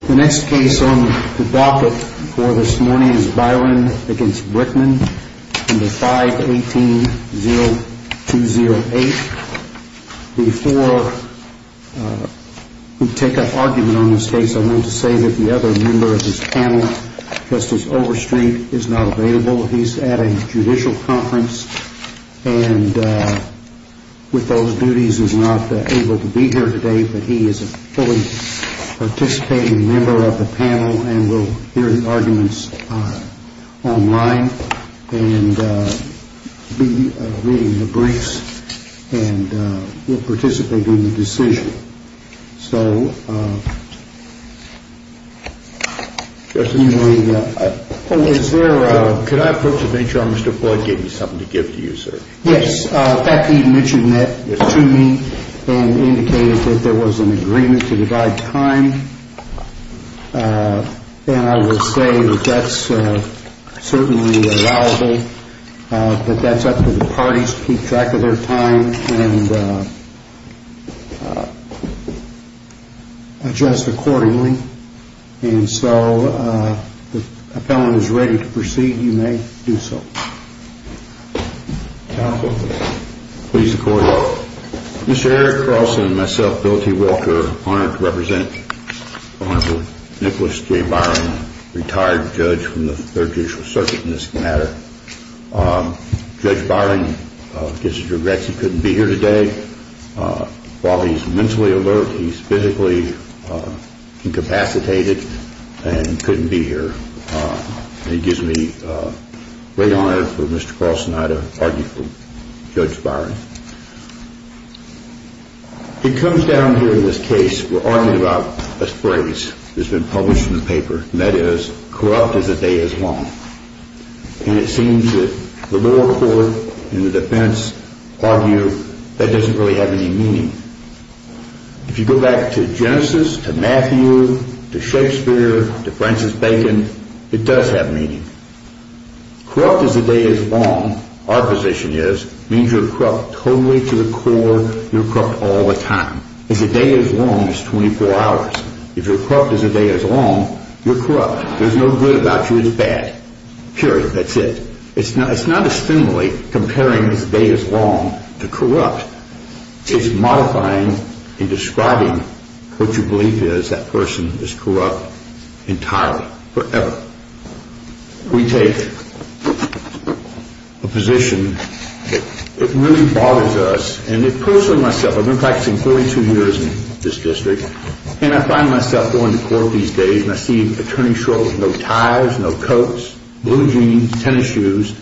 The next case on the docket for this morning is Byron v. Brickman, No. 5-18-0208. Before we take up argument on this case, I want to say that the other member of this panel, Justice Overstreet, is not available. He is at a judicial conference and with those duties is not able to be here today. But he is a fully participating member of the panel and will hear the arguments online and be reading the briefs and will participate in the decision. So, you may... Oh, is there a... Could I approach the bench, Your Honor? Mr. Floyd gave me something to give to you, sir. Yes. In fact, he mentioned that to me and indicated that there was an agreement to divide time. And I will say that that's certainly allowable, but that's up to the parties to keep track of their time. And adjust accordingly. And so, if the appellant is ready to proceed, you may do so. Counsel, please record. Mr. Eric Carlson and myself, Bill T. Wilker, are honored to represent the Honorable Nicholas J. Byron, retired judge from the Third Judicial Circuit in this matter. Judge Byron gives his regrets he couldn't be here today. While he's mentally alert, he's physically incapacitated and couldn't be here. And he gives me great honor for Mr. Carlson and I to argue for Judge Byron. It comes down here in this case, we're arguing about a phrase that's been published in the paper, and that is, corrupt is a day as long. And it seems that the lower court and the defense argue that doesn't really have any meaning. If you go back to Genesis, to Matthew, to Shakespeare, to Francis Bacon, it does have meaning. Corrupt is a day as long, our position is, means you're corrupt totally to the core, you're corrupt all the time. It's a day as long as 24 hours. If you're corrupt as a day as long, you're corrupt. There's no good about you, it's bad. Period, that's it. It's not a stimuli comparing this day as long to corrupt. It's modifying and describing what you believe is that person is corrupt entirely, forever. We take a position, it really bothers us, and personally myself, I've been practicing 42 years in this district, and I find myself going to court these days and I see attorney's shorts with no ties, no coats, blue jeans, tennis shoes,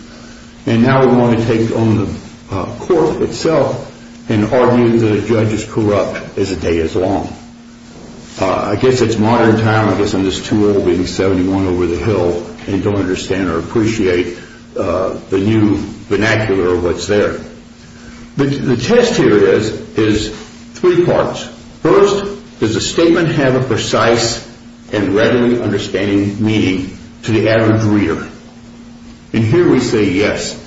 and now we want to take on the court itself and argue that a judge is corrupt as a day as long. I guess it's modern time, I guess I'm just too old being 71 over the hill, and don't understand or appreciate the new vernacular of what's there. The test here is three parts. First, does the statement have a precise and readily understanding meaning to the average reader? And here we say yes.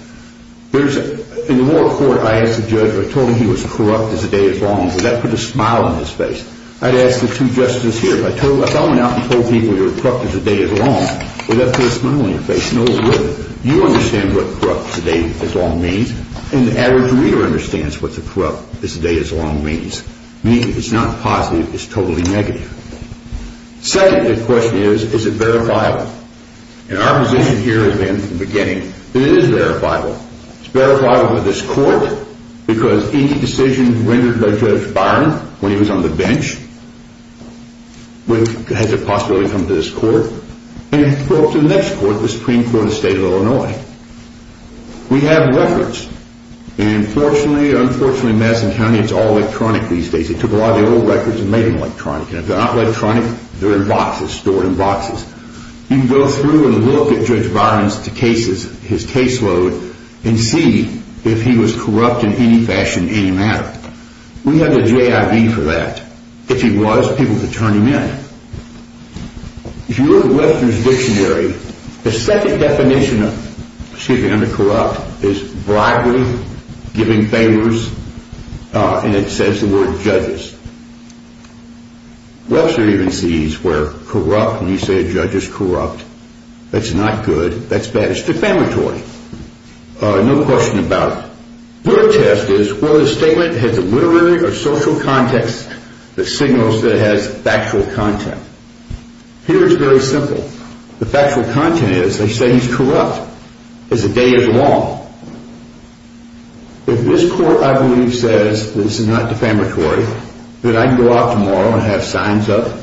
In the moral court, I asked the judge, I told him he was corrupt as a day as long, would that put a smile on his face? I'd ask the two justices here, if I went out and told people you're corrupt as a day as long, would that put a smile on your face? No, it wouldn't. You understand what corrupt as a day as long means, and the average reader understands what the corrupt as a day as long means. Meaning it's not positive, it's totally negative. Second question is, is it verifiable? And our position here has been from the beginning that it is verifiable. It's verifiable to this court, because any decision rendered by Judge Byron, when he was on the bench, has a possibility to come to this court, and to the next court, the Supreme Court of the state of Illinois. We have records, and unfortunately in Madison County it's all electronic these days. They took a lot of the old records and made them electronic, and if they're not electronic, they're in boxes, stored in boxes. You can go through and look at Judge Byron's caseload, and see if he was corrupt in any fashion, any manner. We have the JIV for that. If he was, people could turn him in. If you look at Webster's dictionary, the second definition of corrupt is bribery, giving favors, and it says the word judges. Webster even sees where corrupt, when you say a judge is corrupt, that's not good, that's bad. It's defamatory. No question about it. Third test is, whether the statement has a literary or social context that signals that it has factual content. Here it's very simple. The factual content is, they say he's corrupt. It's a day in the law. If this court, I believe, says this is not defamatory, that I can go out tomorrow and have signs up,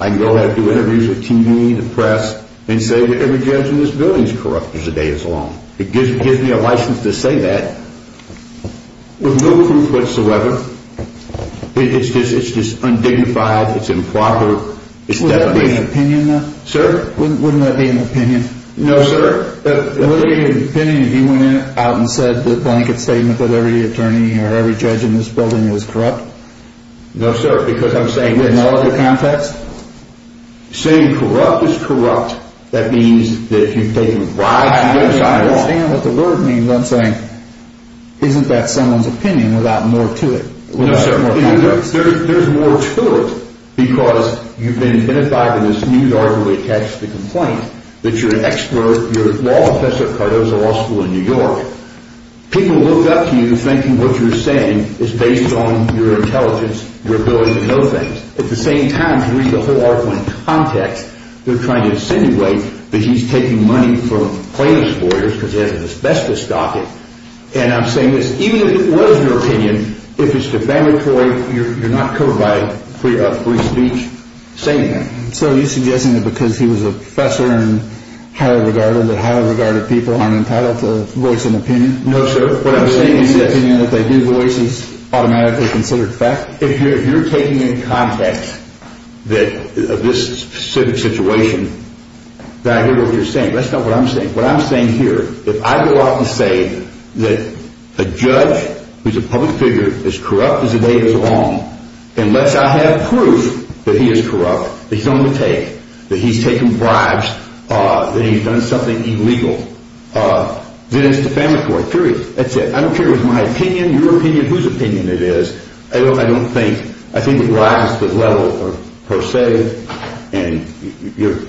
I can go out and do interviews with TV, the press, and say that every judge in this building is corrupt for a day in the law. It gives me a license to say that with no proof whatsoever. It's just undignified, it's improper. Would that be an opinion, though? Sir? Wouldn't that be an opinion? No, sir. Wouldn't it be an opinion if you went out and said the blanket statement that every attorney or every judge in this building is corrupt? No, sir, because I'm saying it's… With no other context? Saying corrupt is corrupt. That means that if you've taken rides in your sidewalk… I don't understand what the word means. I'm saying, isn't that someone's opinion without more to it? No, sir. There's more to it because you've been identified with this news article that you're an expert. You're a law professor at Cardoza Law School in New York. People look up to you thinking what you're saying is based on your intelligence, your ability to know things. At the same time, to read the whole article in context, they're trying to insinuate that he's taking money from plaintiff's lawyers because he has an asbestos docket. And I'm saying this. Even if it was your opinion, if it's defamatory, you're not covered by a free speech statement. So you're suggesting that because he was a professor and highly regarded, that highly regarded people aren't entitled to voice an opinion? No, sir. What I'm saying is that if they do voice it, it's automatically considered fact? If you're taking in context of this specific situation, that I hear what you're saying. That's not what I'm saying. What I'm saying here, if I go out to say that a judge who's a public figure is corrupt as the day goes along, unless I have proof that he is corrupt, that he's on the take, that he's taken bribes, that he's done something illegal, then it's defamatory. Period. That's it. I don't care if it's my opinion, your opinion, whose opinion it is. I don't think it rises to that level per se. And you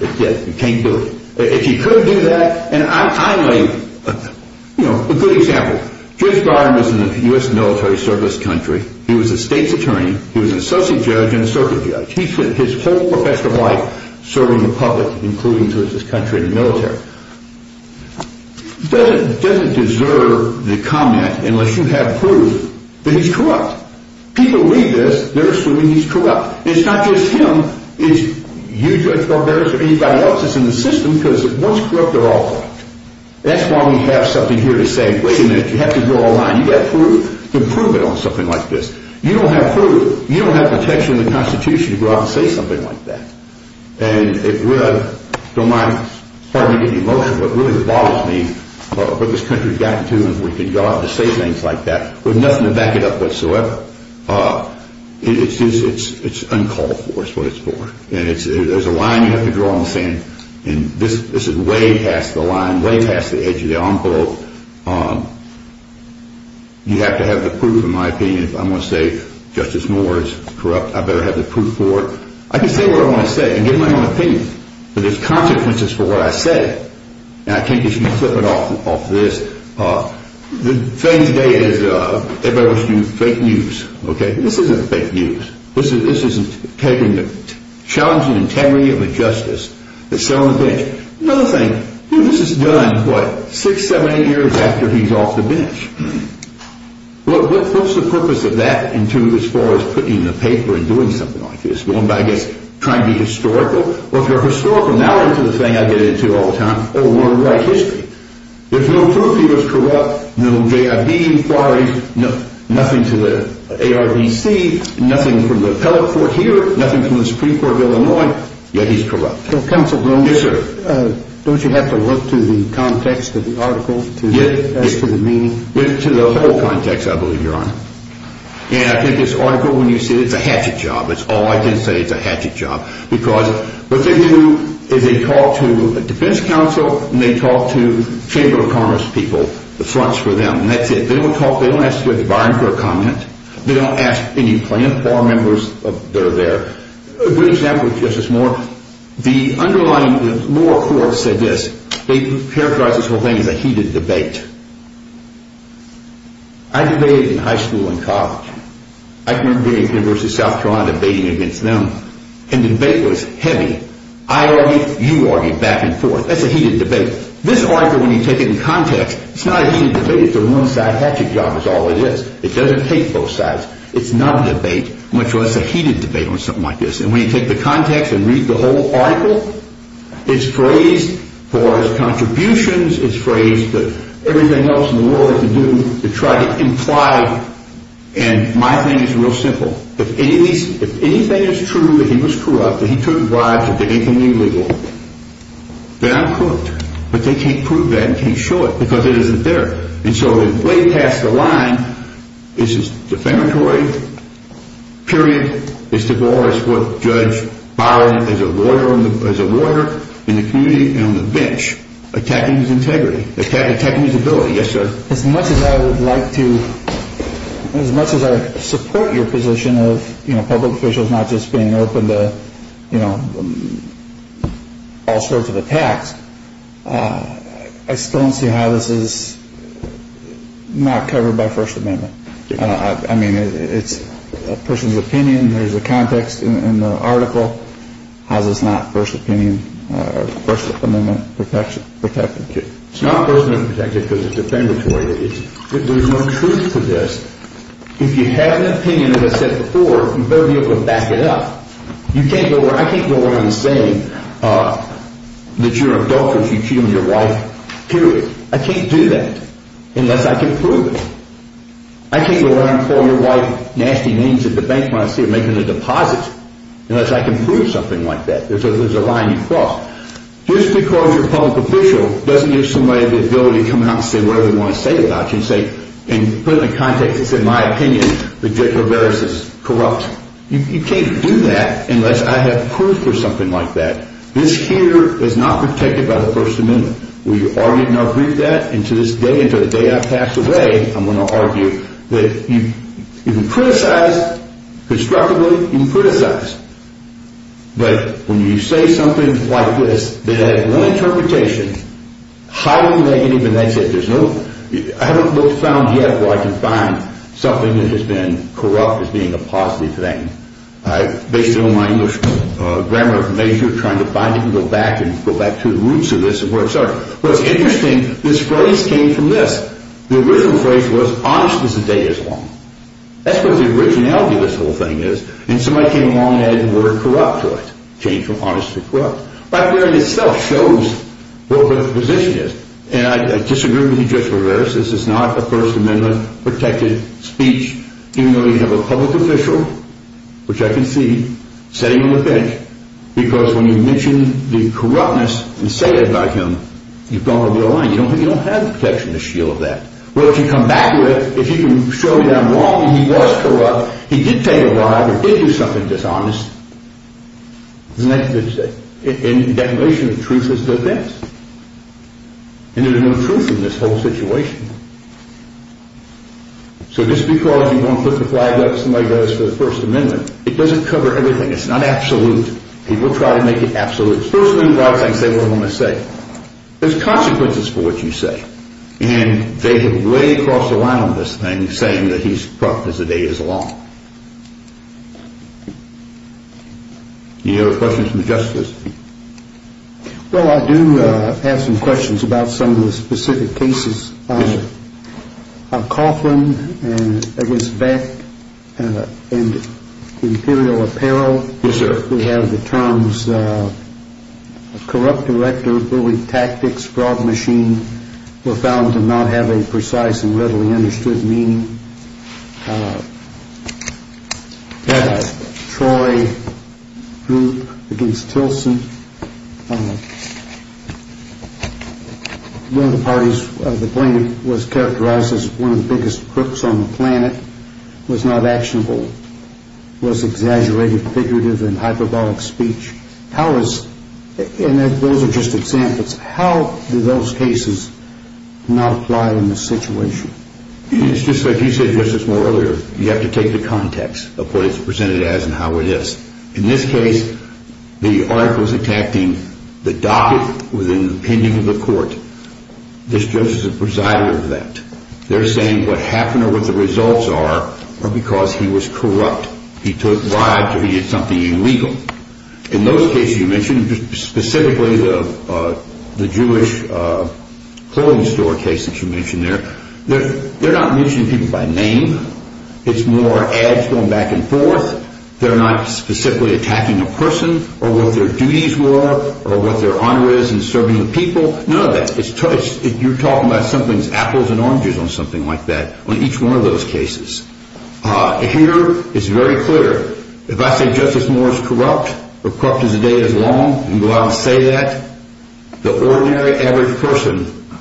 can't do it. If you could do that, and I'll give you a good example. He was a state's attorney. He was an associate judge and a circuit judge. He spent his whole professional life serving the public, including to his country in the military. Doesn't deserve the comment, unless you have proof, that he's corrupt. People read this, they're assuming he's corrupt. And it's not just him, it's you, Judge Barberis, or anybody else that's in the system, because once corrupt, they're all corrupt. That's why we have something here to say, wait a minute, you have to go online. You got proof? Then prove it on something like this. You don't have proof. You don't have the text from the Constitution to go out and say something like that. And I don't mind, pardon me for getting emotional, but it really bothers me what this country's gotten to, and we can go out and say things like that with nothing to back it up whatsoever. It's uncalled for is what it's for. And there's a line you have to draw on the sand, so you have to have the proof, in my opinion. If I'm going to say Justice Moore is corrupt, I better have the proof for it. I can say what I want to say and give my own opinion, but there's consequences for what I say. And I can't just flip it off this. The thing today is everybody wants to do fake news, okay? This isn't fake news. This is taking the challenging integrity of a justice that's sitting on the bench. Another thing, this is done, what, six, seven, eight years after he's off the bench. What's the purpose of that as far as putting in the paper and doing something like this? Going by, I guess, trying to be historical? Well, if you're historical, now into the thing I get into all the time, oh, we're in white history. If no proof he was corrupt, no J.I.B. inquiries, nothing to the ARDC, nothing from the appellate court here, nothing from the Supreme Court of Illinois, yet he's corrupt. Counsel, don't you have to look to the context of the article as to the meaning? Look to the whole context, I believe, Your Honor. And I think this article, when you see it, it's a hatchet job. That's all I can say, it's a hatchet job. Because what they do is they talk to a defense counsel and they talk to Chamber of Commerce people, the fronts for them, and that's it. They don't talk, they don't ask the environment for a comment. They don't ask any plaintiff or members that are there. A good example, Justice Moore, the underlying law court said this. They characterized this whole thing as a heated debate. I debated in high school and college. I remember being at the University of South Carolina debating against them. And the debate was heavy. I argued, you argued back and forth. That's a heated debate. This article, when you take it in context, it's not a heated debate. It's a one-side hatchet job is all it is. It doesn't take both sides. It's not a debate, much less a heated debate on something like this. And when you take the context and read the whole article, it's phrased for his contributions, it's phrased for everything else in the world to do to try to imply. And my thing is real simple. If anything is true that he was corrupt, that he took bribes, or did anything illegal, then I'm corrupt. But they can't prove that and can't show it because it isn't there. And so way past the line, this is defamatory. Period. It's divorce. What Judge Barron, as a lawyer in the community and on the bench, attacking his integrity, attacking his ability. Yes, sir. As much as I would like to, as much as I support your position of public officials not just being open to all sorts of attacks, I still don't see how this is not covered by First Amendment. I mean, it's a person's opinion. There's a context in the article. How is this not First Amendment protected? It's not First Amendment protected because it's defamatory. There's no truth to this. If you have an opinion, as I said before, you'd better be able to back it up. I can't go around saying that you're an adulterer if you cheat on your wife. Period. I can't do that unless I can prove it. I can't go around calling your wife nasty names at the bank when I see her making a deposit unless I can prove something like that. There's a line you cross. Just because you're a public official doesn't give somebody the ability to come out and say whatever they want to say about you and put it in a context that says, in my opinion, that Jekyll and Hyde is corrupt. You can't do that unless I have proof or something like that. This here is not protected by the First Amendment. Will you argue and agree with that? And to this day, until the day I pass away, I'm going to argue that you can criticize. Constructively, you can criticize. But when you say something like this that had one interpretation, highly negative, and they said there's no—I haven't found yet where I can find something that has been corrupt as being a positive thing. I've based it on my English grammar of nature, trying to find it and go back and go back to the roots of this and where it starts. What's interesting, this phrase came from this. The original phrase was, honest as the day is long. That's what the originality of this whole thing is. And somebody came along and added the word corrupt to it. Changed from honest to corrupt. Right there in itself shows what the position is. And I disagree with you, Judge Rivera. This is not a First Amendment-protected speech, even though you have a public official, which I can see, sitting on the bench. Because when you mention the corruptness and say it about him, you've gone over the line. You don't have the protection to shield that. Well, if you come back to it, if you can show me that I'm wrong and he was corrupt, he did take a bribe or did do something dishonest, isn't that a good thing? And the definition of truth is this. And there's no truth in this whole situation. So just because you want to put the flag up like somebody does for the First Amendment, it doesn't cover everything. It's not absolute. People try to make it absolute. It's first and foremost, I say what I'm going to say. There's consequences for what you say. And they have way crossed the line on this thing, saying that he's corrupt as the day is long. Any other questions from the justices? Well, I do have some questions about some of the specific cases. Yes, sir. Coughlin against Beck and Imperial Apparel. Yes, sir. We have the terms corrupt director, bully tactics, fraud machine, were found to not have a precise and readily understood meaning. Troy Group against Tilson. One of the parties, the plaintiff was characterized as one of the biggest crooks on the planet, was not actionable, was exaggerated figurative and hyperbolic speech. And those are just examples. How do those cases not apply in this situation? It's just like you said, Justice, more earlier. You have to take the context of what it's presented as and how it is. In this case, the article is attacking the docket within the opinion of the court. This judge is a presider of that. They're saying what happened or what the results are are because he was corrupt. He took bribes or he did something illegal. In those cases you mentioned, specifically the Jewish clothing store case that you mentioned there, they're not mentioning people by name. It's more ads going back and forth. They're not specifically attacking a person or what their duties were or what their honor is in serving the people. None of that. You're talking about something's apples and oranges on something like that on each one of those cases. Here it's very clear. If I say Justice Moore is corrupt or corrupt as the day is long and go out and say that, the ordinary average person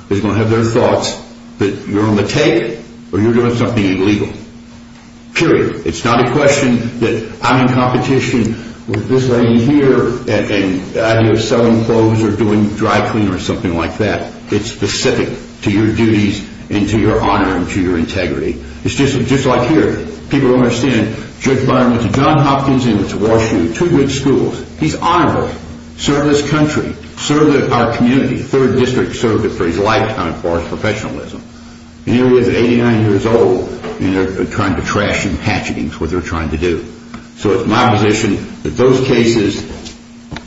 is going to have their thoughts that you're on the take or you're doing something illegal, period. It's not a question that I'm in competition with this lady here and the idea of selling clothes or doing dry clean or something like that. It's specific to your duties and to your honor and to your integrity. It's just like here. People don't understand. Judge Byron went to John Hopkins and went to Wash U, two good schools. He's honorable. Served this country. Served our community. The 3rd District served it for his lifetime as far as professionalism. And here he is 89 years old and they're trying to trash him, hatchet him. That's what they're trying to do. So it's my position that those cases,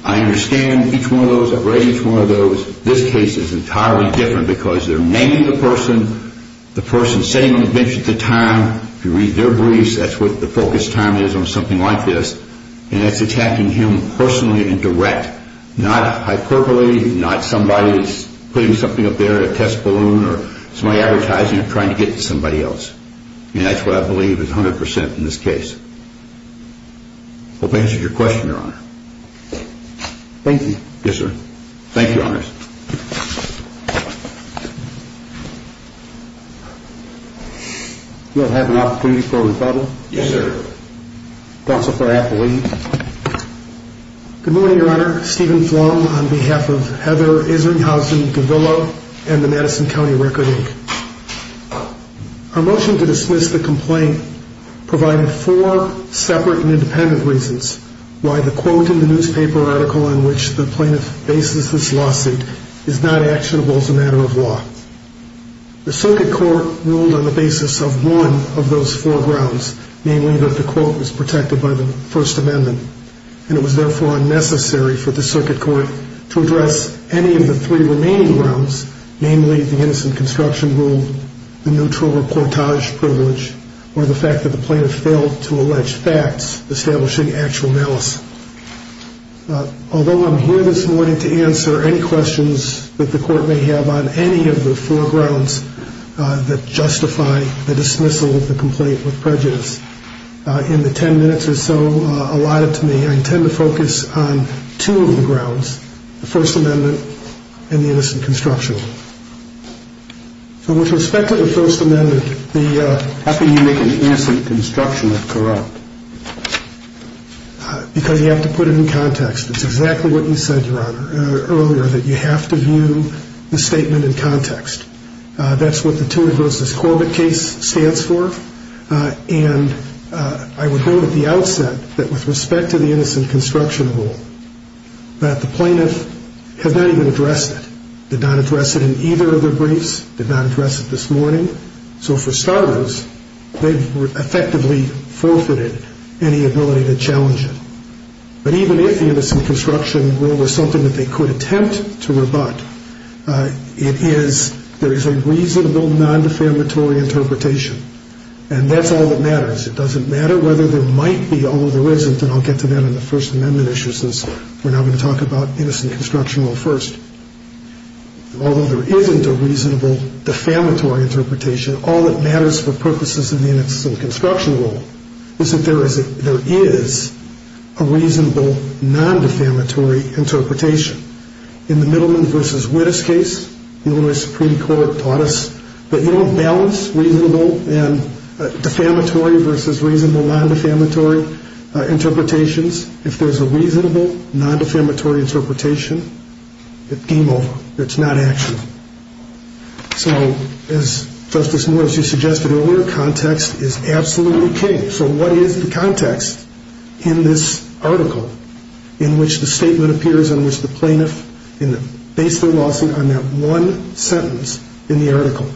I understand each one of those. I've read each one of those. This case is entirely different because they're naming the person, the person sitting on the bench at the time. If you read their briefs, that's what the focus time is on something like this. And it's attacking him personally and direct. Not hyperbole, not somebody putting something up there, a test balloon or somebody advertising it trying to get to somebody else. And that's what I believe is 100% in this case. Hope that answers your question, your honor. Thank you. Yes, sir. Thank you, your honor. Do I have an opportunity for a rebuttal? Yes, sir. Counsel for affidavit. Good morning, your honor. Stephen Flum on behalf of Heather Isringhausen-Gavillo and the Madison County Record Inc. Our motion to dismiss the complaint provided four separate and independent reasons why the quote in the newspaper article on which the plaintiff bases this lawsuit is not actionable as a matter of law. The circuit court ruled on the basis of one of those four grounds, namely that the quote was protected by the First Amendment and it was therefore unnecessary for the circuit court to address any of the three remaining grounds, namely the innocent construction rule, the neutral reportage privilege, or the fact that the plaintiff failed to allege facts establishing actual analysis. Although I'm here this morning to answer any questions that the court may have on any of the four grounds that justify the dismissal of the complaint with prejudice, in the ten minutes or so allotted to me, I intend to focus on two of the grounds, the First Amendment and the innocent construction rule. So with respect to the First Amendment, the... How can you make an innocent construction rule corrupt? Because you have to put it in context. It's exactly what you said, Your Honor, earlier, that you have to view the statement in context. That's what the Tuan v. Corbett case stands for. And I would note at the outset that with respect to the innocent construction rule, that the plaintiff has not even addressed it, did not address it in either of their briefs, did not address it this morning. So for starters, they've effectively forfeited any ability to challenge it. But even if the innocent construction rule was something that they could attempt to rebut, it is, there is a reasonable non-defamatory interpretation. And that's all that matters. It doesn't matter whether there might be or there isn't, and I'll get to that in the First Amendment issue since we're not going to talk about innocent construction rule first. Although there isn't a reasonable defamatory interpretation, all that matters for purposes of the innocent construction rule is that there is a reasonable non-defamatory interpretation. In the Middleman v. Wittes case, the Illinois Supreme Court taught us that you don't balance reasonable and defamatory versus reasonable non-defamatory interpretations. If there's a reasonable non-defamatory interpretation, it's game over. It's not action. So as Justice Morris, you suggested earlier, context is absolutely key. So what is the context in this article in which the statement appears in which the plaintiff based their lawsuit on that one sentence in the article?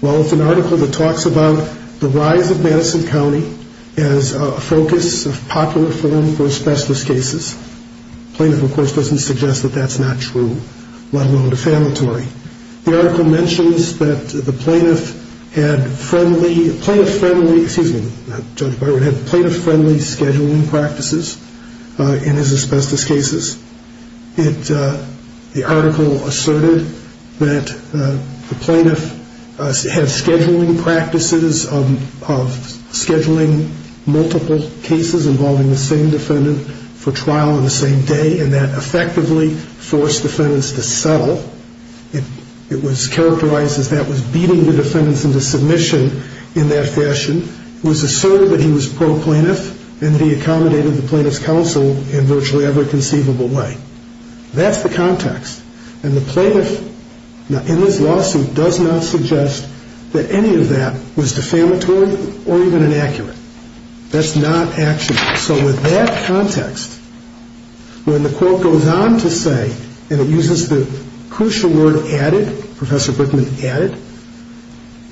Well, it's an article that talks about the rise of Madison County as a focus of popular forum for asbestos cases. The plaintiff, of course, doesn't suggest that that's not true, let alone defamatory. The article mentions that the plaintiff had friendly, plaintiff-friendly, excuse me, Judge Byron had plaintiff-friendly scheduling practices in his asbestos cases. The article asserted that the plaintiff had scheduling practices of scheduling multiple cases involving the same defendant for trial on the same day, and that effectively forced defendants to settle. It was characterized as that was beating the defendants into submission in that fashion. It was asserted that he was pro-plaintiff and that he accommodated the plaintiff's counsel in virtually every conceivable way. That's the context. And the plaintiff in this lawsuit does not suggest that any of that was defamatory or even inaccurate. That's not action. So with that context, when the court goes on to say, and it uses the crucial word added, Professor Brickman added,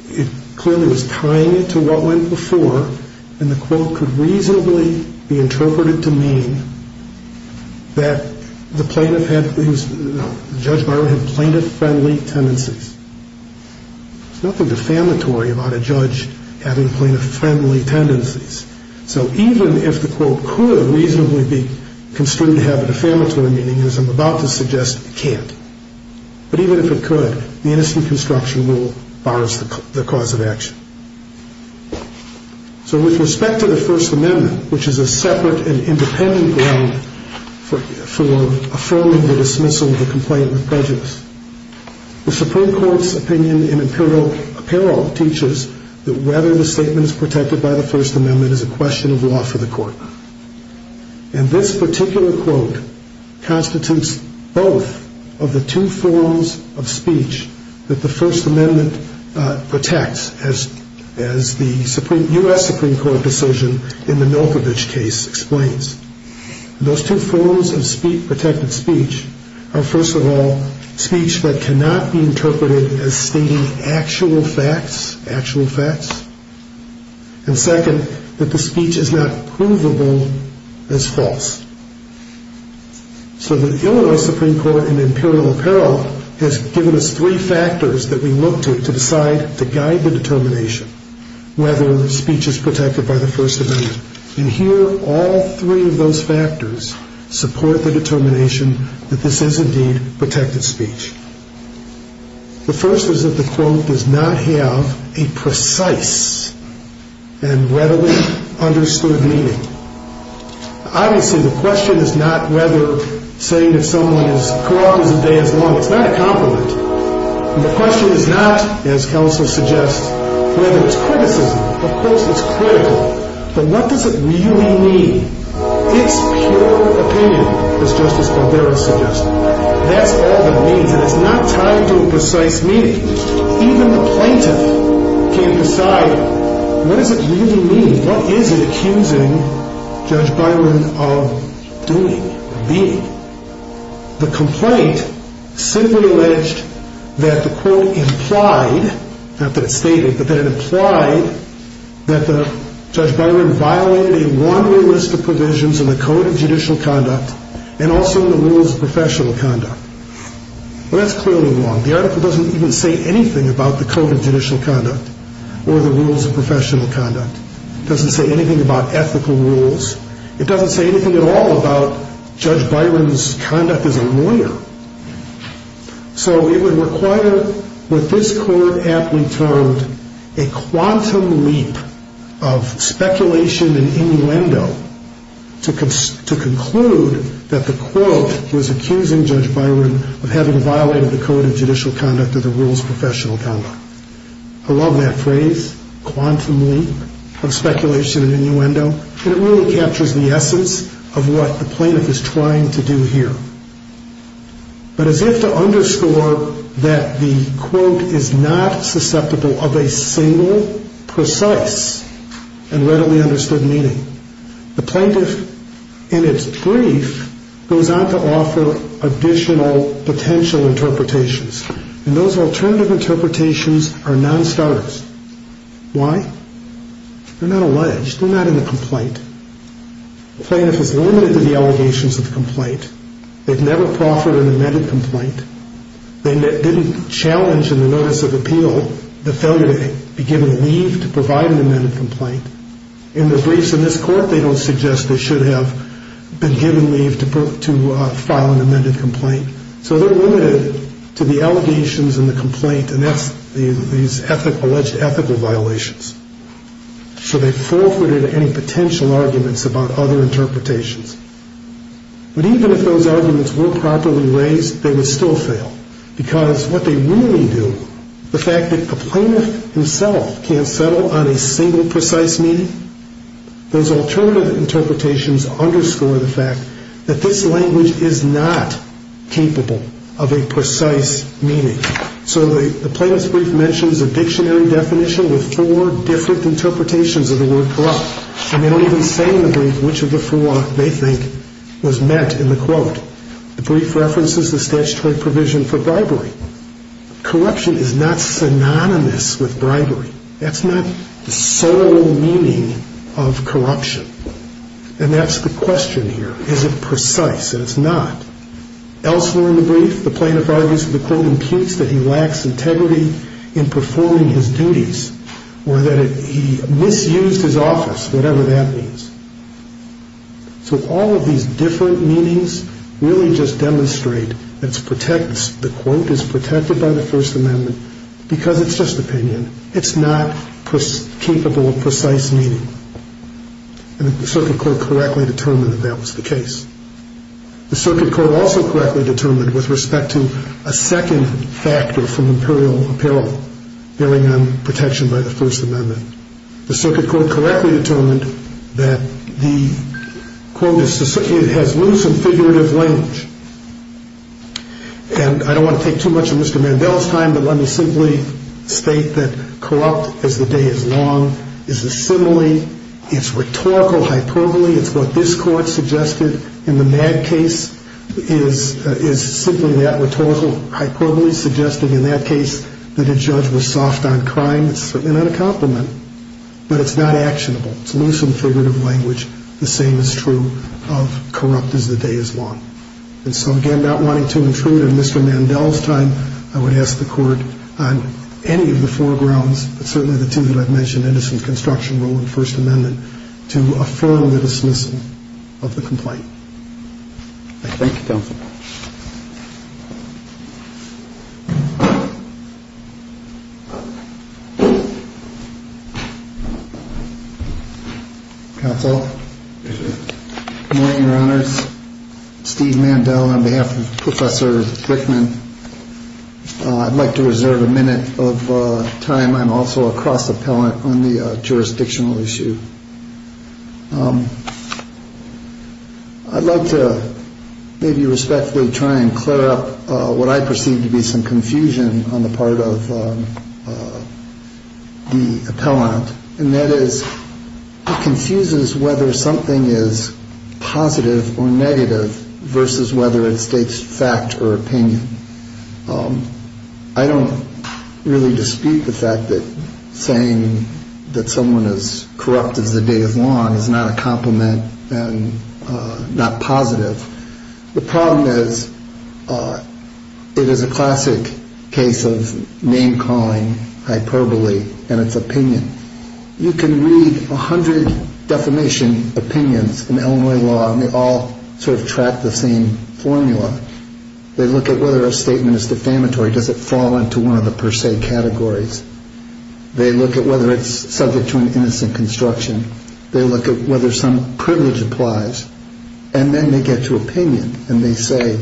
it clearly was tying it to what went before, and the quote could reasonably be interpreted to mean that the plaintiff had, no, Judge Byron had plaintiff-friendly tendencies. There's nothing defamatory about a judge having plaintiff-friendly tendencies. So even if the quote could reasonably be construed to have a defamatory meaning, as I'm about to suggest, it can't. But even if it could, the innocent construction rule bars the cause of action. So with respect to the First Amendment, which is a separate and independent ground for affirming the dismissal of a complaint with prejudice, the Supreme Court's opinion in apparel teaches that whether the statement is protected by the First Amendment is a question of law for the court. And this particular quote constitutes both of the two forms of speech that the First Amendment protects, as the U.S. Supreme Court decision in the Milkovich case explains. Those two forms of protected speech are, first of all, speech that cannot be interpreted as stating actual facts, actual facts, and second, that the speech is not provable as false. So the Illinois Supreme Court in imperial apparel has given us three factors that we look to to decide, to guide the determination, whether the speech is protected by the First Amendment. And here, all three of those factors support the determination that this is indeed protected speech. The first is that the quote does not have a precise and readily understood meaning. Obviously, the question is not whether saying that someone is corrupt is a day as long. It's not a compliment. And the question is not, as counsel suggests, whether it's criticism. Of course, it's critical, but what does it really mean? It's pure opinion, as Justice Barbera suggested. That's all that it means, and it's not tied to a precise meaning. Even the plaintiff can decide, what does it really mean? What is it accusing Judge Byron of doing, of being? The complaint simply alleged that the quote implied, not that it stated, but that it implied that Judge Byron violated a one-way list of provisions in the Code of Judicial Conduct and also in the Rules of Professional Conduct. Well, that's clearly wrong. The article doesn't even say anything about the Code of Judicial Conduct or the Rules of Professional Conduct. It doesn't say anything about ethical rules. It doesn't say anything at all about Judge Byron's conduct as a lawyer. So it would require what this Court aptly termed a quantum leap of speculation and innuendo to conclude that the quote was accusing Judge Byron of having violated the Code of Judicial Conduct or the Rules of Professional Conduct. I love that phrase, quantum leap of speculation and innuendo, and it really captures the essence of what the plaintiff is trying to do here. But as if to underscore that the quote is not susceptible of a single precise and readily understood meaning, the plaintiff, in its brief, goes on to offer additional potential interpretations, and those alternative interpretations are non-starters. Why? They're not alleged. They're not in the complaint. The plaintiff is limited to the allegations of the complaint. They've never proffered an amended complaint. They didn't challenge in the notice of appeal the failure to be given leave to provide an amended complaint. In the briefs in this Court, they don't suggest they should have been given leave to file an amended complaint. So they're limited to the allegations and the complaint, and that's these alleged ethical violations. So they've forfeited any potential arguments about other interpretations. But even if those arguments were properly raised, they would still fail, because what they really do, the fact that the plaintiff himself can't settle on a single precise meaning, those alternative interpretations underscore the fact that this language is not capable of a precise meaning. So the plaintiff's brief mentions a dictionary definition with four different interpretations of the word corrupt, and they don't even say in the brief which of the four they think was meant in the quote. The brief references the statutory provision for bribery. Corruption is not synonymous with bribery. That's not the sole meaning of corruption, and that's the question here. Is it precise? And it's not. Elsewhere in the brief, the plaintiff argues that the quote imputes that he lacks integrity in performing his duties, or that he misused his office, whatever that means. So all of these different meanings really just demonstrate that the quote is protected by the First Amendment because it's just opinion. It's not capable of precise meaning. And the Circuit Court correctly determined that that was the case. The Circuit Court also correctly determined, with respect to a second factor from imperial apparel, bearing on protection by the First Amendment, the Circuit Court correctly determined that the quote has loose and figurative language. And I don't want to take too much of Mr. Mandel's time, but let me simply state that corrupt, as the day is long, is a simile, it's rhetorical hyperbole, it's what this Court suggested in the MAD case, is simply that rhetorical hyperbole, suggesting in that case that a judge was soft on crime. It's certainly not a compliment, but it's not actionable. It's loose and figurative language, the same is true of corrupt as the day is long. And so again, not wanting to intrude on Mr. Mandel's time, I would ask the Court on any of the four grounds, but certainly the two that I've mentioned, innocence, construction, rule, and First Amendment, to affirm the dismissal of the complaint. Thank you, counsel. Good morning, Your Honors. Steve Mandel on behalf of Professor Brickman. I'd like to reserve a minute of time, I'm also a cross-appellant on the jurisdictional issue. I'd like to maybe respectfully try and clear up what I perceive to be some confusion on the part of the appellant, and that is, he confuses whether something is positive or negative versus whether it states fact or opinion. I don't really dispute the fact that saying that someone is corrupt as the day is long is not a compliment and not positive. The problem is, it is a classic case of name-calling, hyperbole, and it's opinion. You can read a hundred defamation opinions in Illinois law, and they all sort of track the same formula. They look at whether a statement is defamatory, does it fall into one of the per se categories. They look at whether it's subject to an innocent construction. They look at whether some privilege applies. And then they get to opinion, and they say,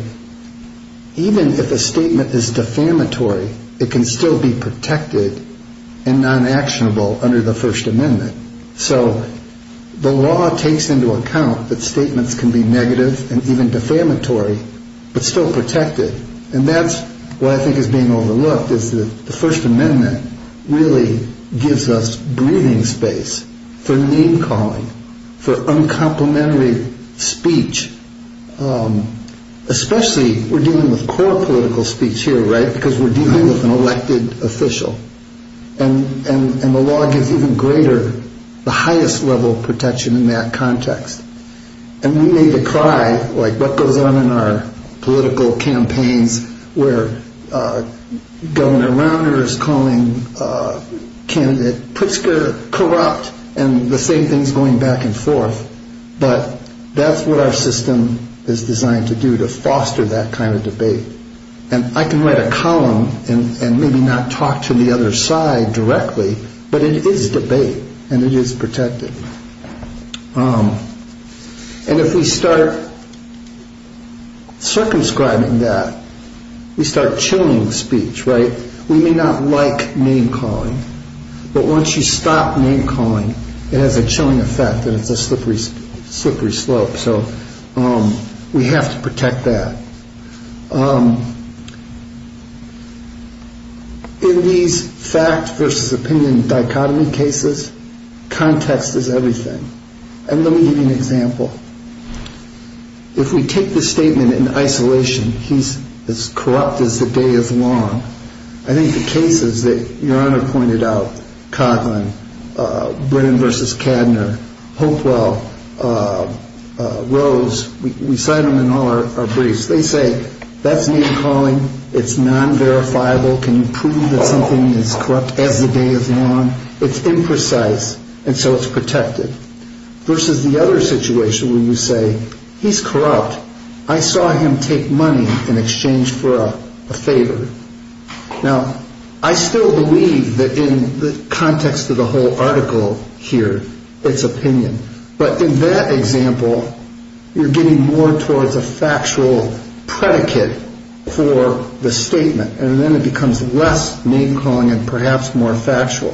even if a statement is defamatory, it can still be protected and non-actionable under the First Amendment. So the law takes into account that statements can be negative and even defamatory, but still protected. And that's what I think is being overlooked, is that the First Amendment really gives us breathing space for name-calling, for uncomplimentary speech. Especially, we're dealing with core political speech here, right, because we're dealing with an elected official. And the law gives even greater, the highest level of protection in that context. And we may decry, like what goes on in our political campaigns where Governor Rauner is calling candidate Pritzker corrupt, and the same thing is going back and forth, but that's what our system is designed to do, to foster that kind of debate. And I can write a column and maybe not talk to the other side directly, but it is debate, and it is protected. And if we start circumscribing that, we start chilling speech, right? We may not like name-calling, but once you stop name-calling, it has a chilling effect and it's a slippery slope. So we have to protect that. In these fact versus opinion dichotomy cases, context is everything. And let me give you an example. If we take the statement in isolation, he's as corrupt as the day is long, I think the cases that Your Honor pointed out, Coughlin, Brennan versus Kadner, Hopewell, Rose, we cite them in all our briefs. They say, that's name-calling, it's non-verifiable, can you prove that something is corrupt as the day is long? It's imprecise, and so it's protected. Versus the other situation where you say, he's corrupt, I saw him take money in exchange for a favor. Now, I still believe that in the context of the whole article here, it's opinion. But in that example, you're getting more towards a factual predicate for the statement, and then it becomes less name-calling and perhaps more factual.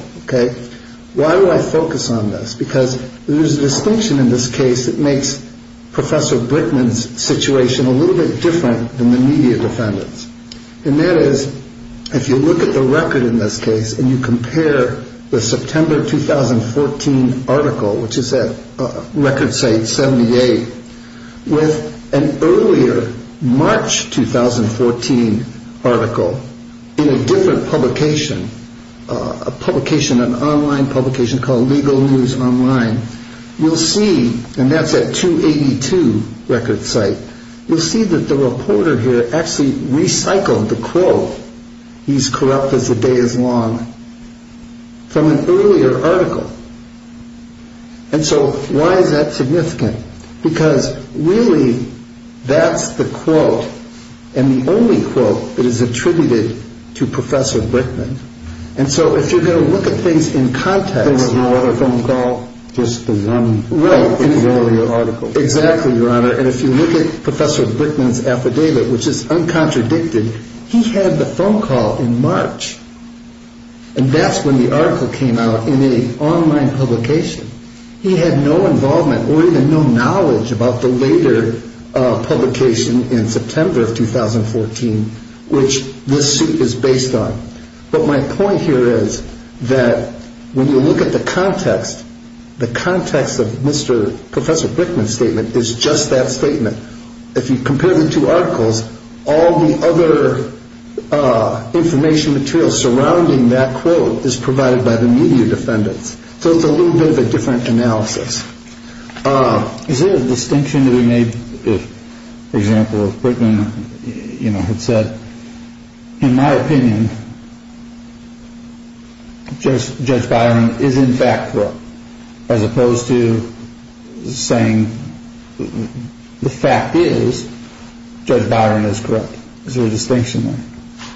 Why do I focus on this? Because there's a distinction in this case that makes Professor Britman's situation a little bit different than the media defendant's. And that is, if you look at the record in this case and you compare the September 2014 article, which is at record site 78, with an earlier March 2014 article in a different publication, an online publication called Legal News Online, you'll see, and that's at 282 record site, you'll see that the reporter here actually recycled the quote, he's corrupt as the day is long, from an earlier article. And so why is that significant? Because really, that's the quote, and the only quote that is attributed to Professor Britman. And so if you're going to look at things in context... Exactly, Your Honor, and if you look at Professor Britman's affidavit, which is uncontradicted, he had the phone call in March, and that's when the article came out in an online publication. He had no involvement or even no knowledge about the later publication in September of 2014, which this suit is based on. But my point here is that when you look at the context, the context of Professor Britman's statement is just that statement. If you compare the two articles, all the other information material surrounding that quote is provided by the media defendants. So it's a little bit of a different analysis. Is there a distinction to be made, for example, if Britman had said, in my opinion, Judge Byron is in fact corrupt, as opposed to saying the fact is Judge Byron is corrupt? Is there a distinction there?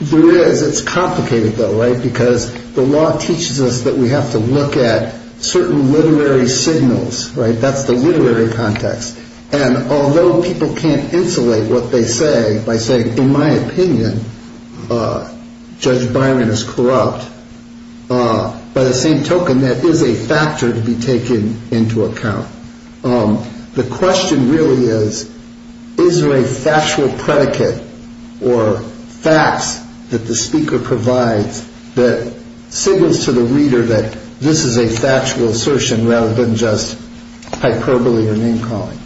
There is. It's complicated, though, because the law teaches us that we have to look at certain literary signals. That's the literary context. And although people can't insulate what they say by saying, in my opinion, Judge Byron is corrupt, by the same token, that is a factor to be taken into account. The question really is, is there a factual predicate or facts that the speaker provides that signals to the reader that this is a factual assertion rather than just hyperbole or name calling?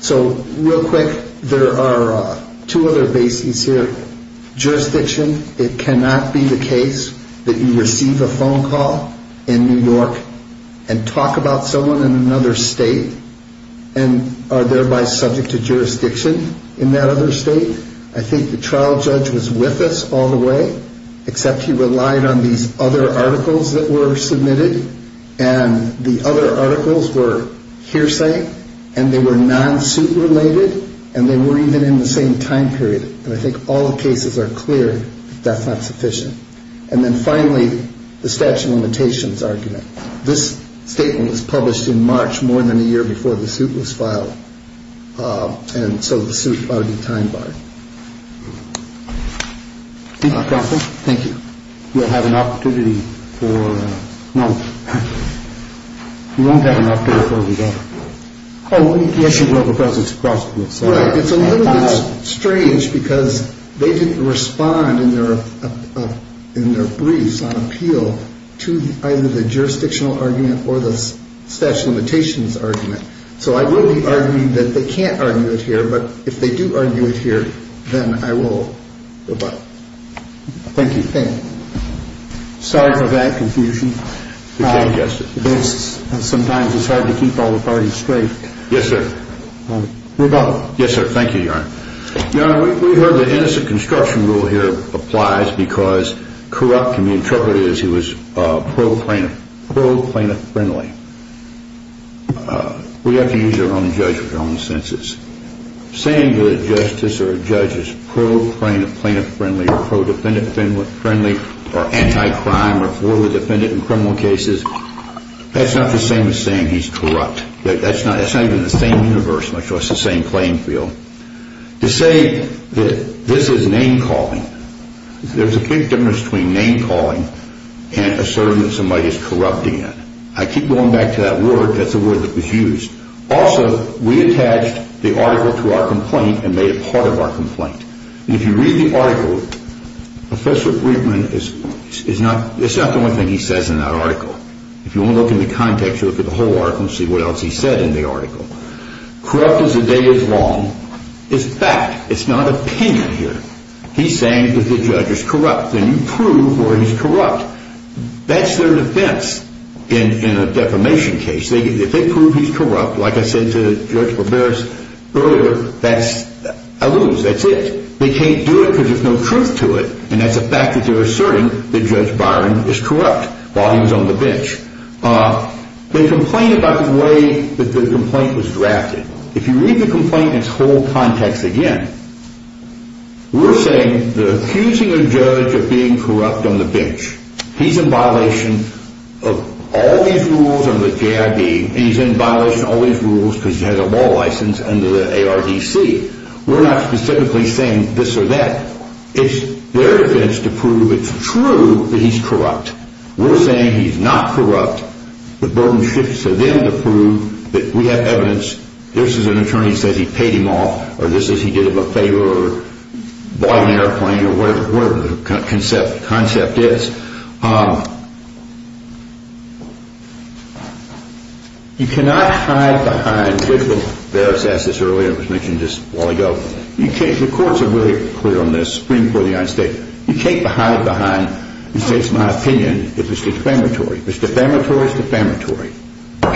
So real quick, there are two other bases here. Jurisdiction, it cannot be the case that you receive a phone call in New York and talk about someone in another state and are thereby subject to jurisdiction in that other state. I think the trial judge was with us all the way, except he relied on these other articles that were submitted. And the other articles were hearsay and they were non-suit related, and they were even in the same time period. And I think all the cases are clear that that's not sufficient. And then finally, the statute of limitations argument. This statement was published in March, more than a year before the suit was filed. And so the suit ought to be time barred. Thank you. We'll have an opportunity for. We won't have an opportunity. Oh, yes, you will, because it's possible. It's a little bit strange because they didn't respond in their in their briefs on appeal to either the jurisdictional argument or the statute of limitations argument. So I will be arguing that they can't argue it here. But if they do argue it here, then I will. But thank you. Sorry for that confusion. Yes. Sometimes it's hard to keep all the parties straight. Yes, sir. Yes, sir. Thank you. You know, we heard the innocent construction rule here applies because corrupt can be interpreted as he was. We have to use our own judgment, our own senses. Saying that a justice or a judge is pro plaintiff friendly or pro defendant friendly or anti-crime or for the defendant in criminal cases, that's not the same as saying he's corrupt. That's not that's not even the same universe, much less the same playing field to say that this is name calling. There's a big difference between name calling and asserting that somebody is corrupting it. I keep going back to that word. That's a word that was used. Also, we attached the article to our complaint and made it part of our complaint. If you read the article, Professor Griebman is is not it's not the only thing he says in that article. If you look in the context, you look at the whole article and see what else he said in the article. Corrupt as the day is long is fact. It's not opinion here. He's saying that the judge is corrupt. And you prove where he's corrupt. That's their defense in a defamation case. If they prove he's corrupt, like I said to Judge Barberis earlier, that's a lose. That's it. They can't do it because there's no truth to it. And that's a fact that they're asserting that Judge Byron is corrupt while he was on the bench. They complain about the way that the complaint was drafted. If you read the complaint in its whole context again, we're saying the accusing a judge of being corrupt on the bench. He's in violation of all these rules under the J.I.D. and he's in violation of all these rules because he has a law license under the A.R.D.C. We're not specifically saying this or that. It's their defense to prove it's true that he's corrupt. We're saying he's not corrupt. The burden shifts to them to prove that we have evidence. This is an attorney who says he paid him off or this is he did him a favor or bought an airplane or whatever the concept is. You cannot hide behind, Judge Barberis asked this earlier, it was mentioned just a while ago, the courts are really clear on this, Supreme Court of the United States, you can't hide behind and say it's my opinion if it's defamatory. If it's defamatory, it's defamatory.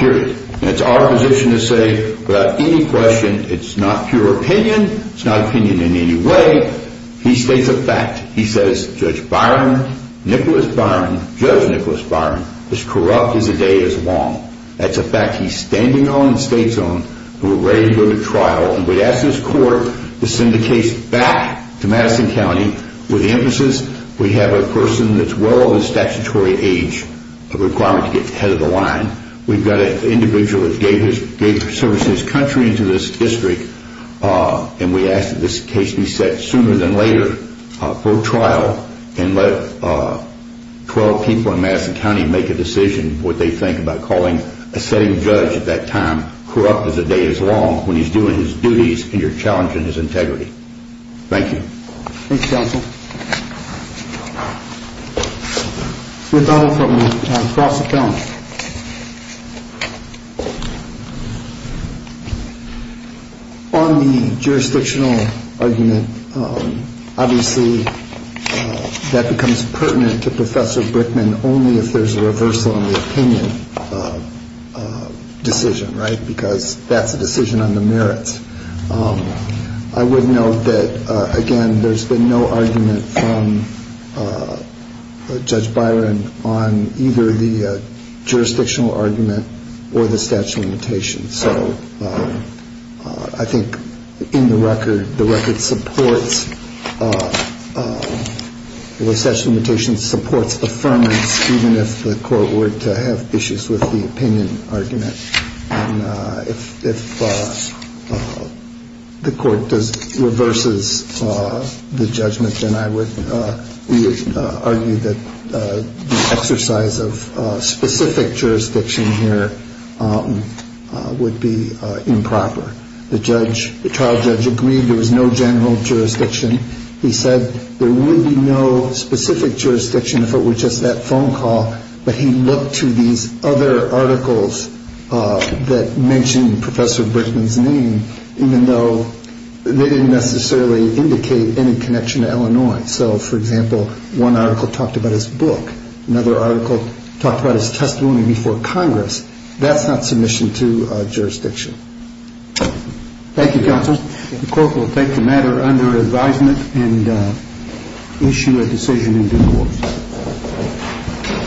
Period. And it's our position to say without any question it's not pure opinion, it's not opinion in any way, he states a fact. He says Judge Byron, Nicholas Byron, Judge Nicholas Byron is corrupt as the day is long. That's a fact he's standing on and states on. We're ready to go to trial. We ask this court to send the case back to Madison County with the emphasis we have a person that's well over the statutory age requirement to get ahead of the line. We've got an individual that gave service to his country and to this district and we ask that this case be set sooner than later for trial and let 12 people in Madison County make a decision what they think about calling a setting judge at that time corrupt as the day is long when he's doing his duties and you're challenging his integrity. Thank you. Thank you, Counsel. We're going to cross it down. On the jurisdictional argument, obviously, that becomes pertinent to Professor Brickman only if there's a reversal in the opinion decision. Right. Because that's a decision on the merits. I would note that, again, there's been no argument from Judge Byron on either the jurisdictional argument or the statute of limitations. So I think in the record, the record supports the statute of limitations supports the firmness even if the court were to have issues with the opinion argument. If the court reverses the judgment, then I would argue that the exercise of specific jurisdiction here would be improper. The trial judge agreed there was no general jurisdiction. He said there would be no specific jurisdiction if it were just that phone call. But he looked to these other articles that mentioned Professor Brickman's name, even though they didn't necessarily indicate any connection to Illinois. So, for example, one article talked about his book. Another article talked about his testimony before Congress. That's not submission to jurisdiction. Thank you, Counsel. The Court will take the matter under advisement and issue a decision in due course.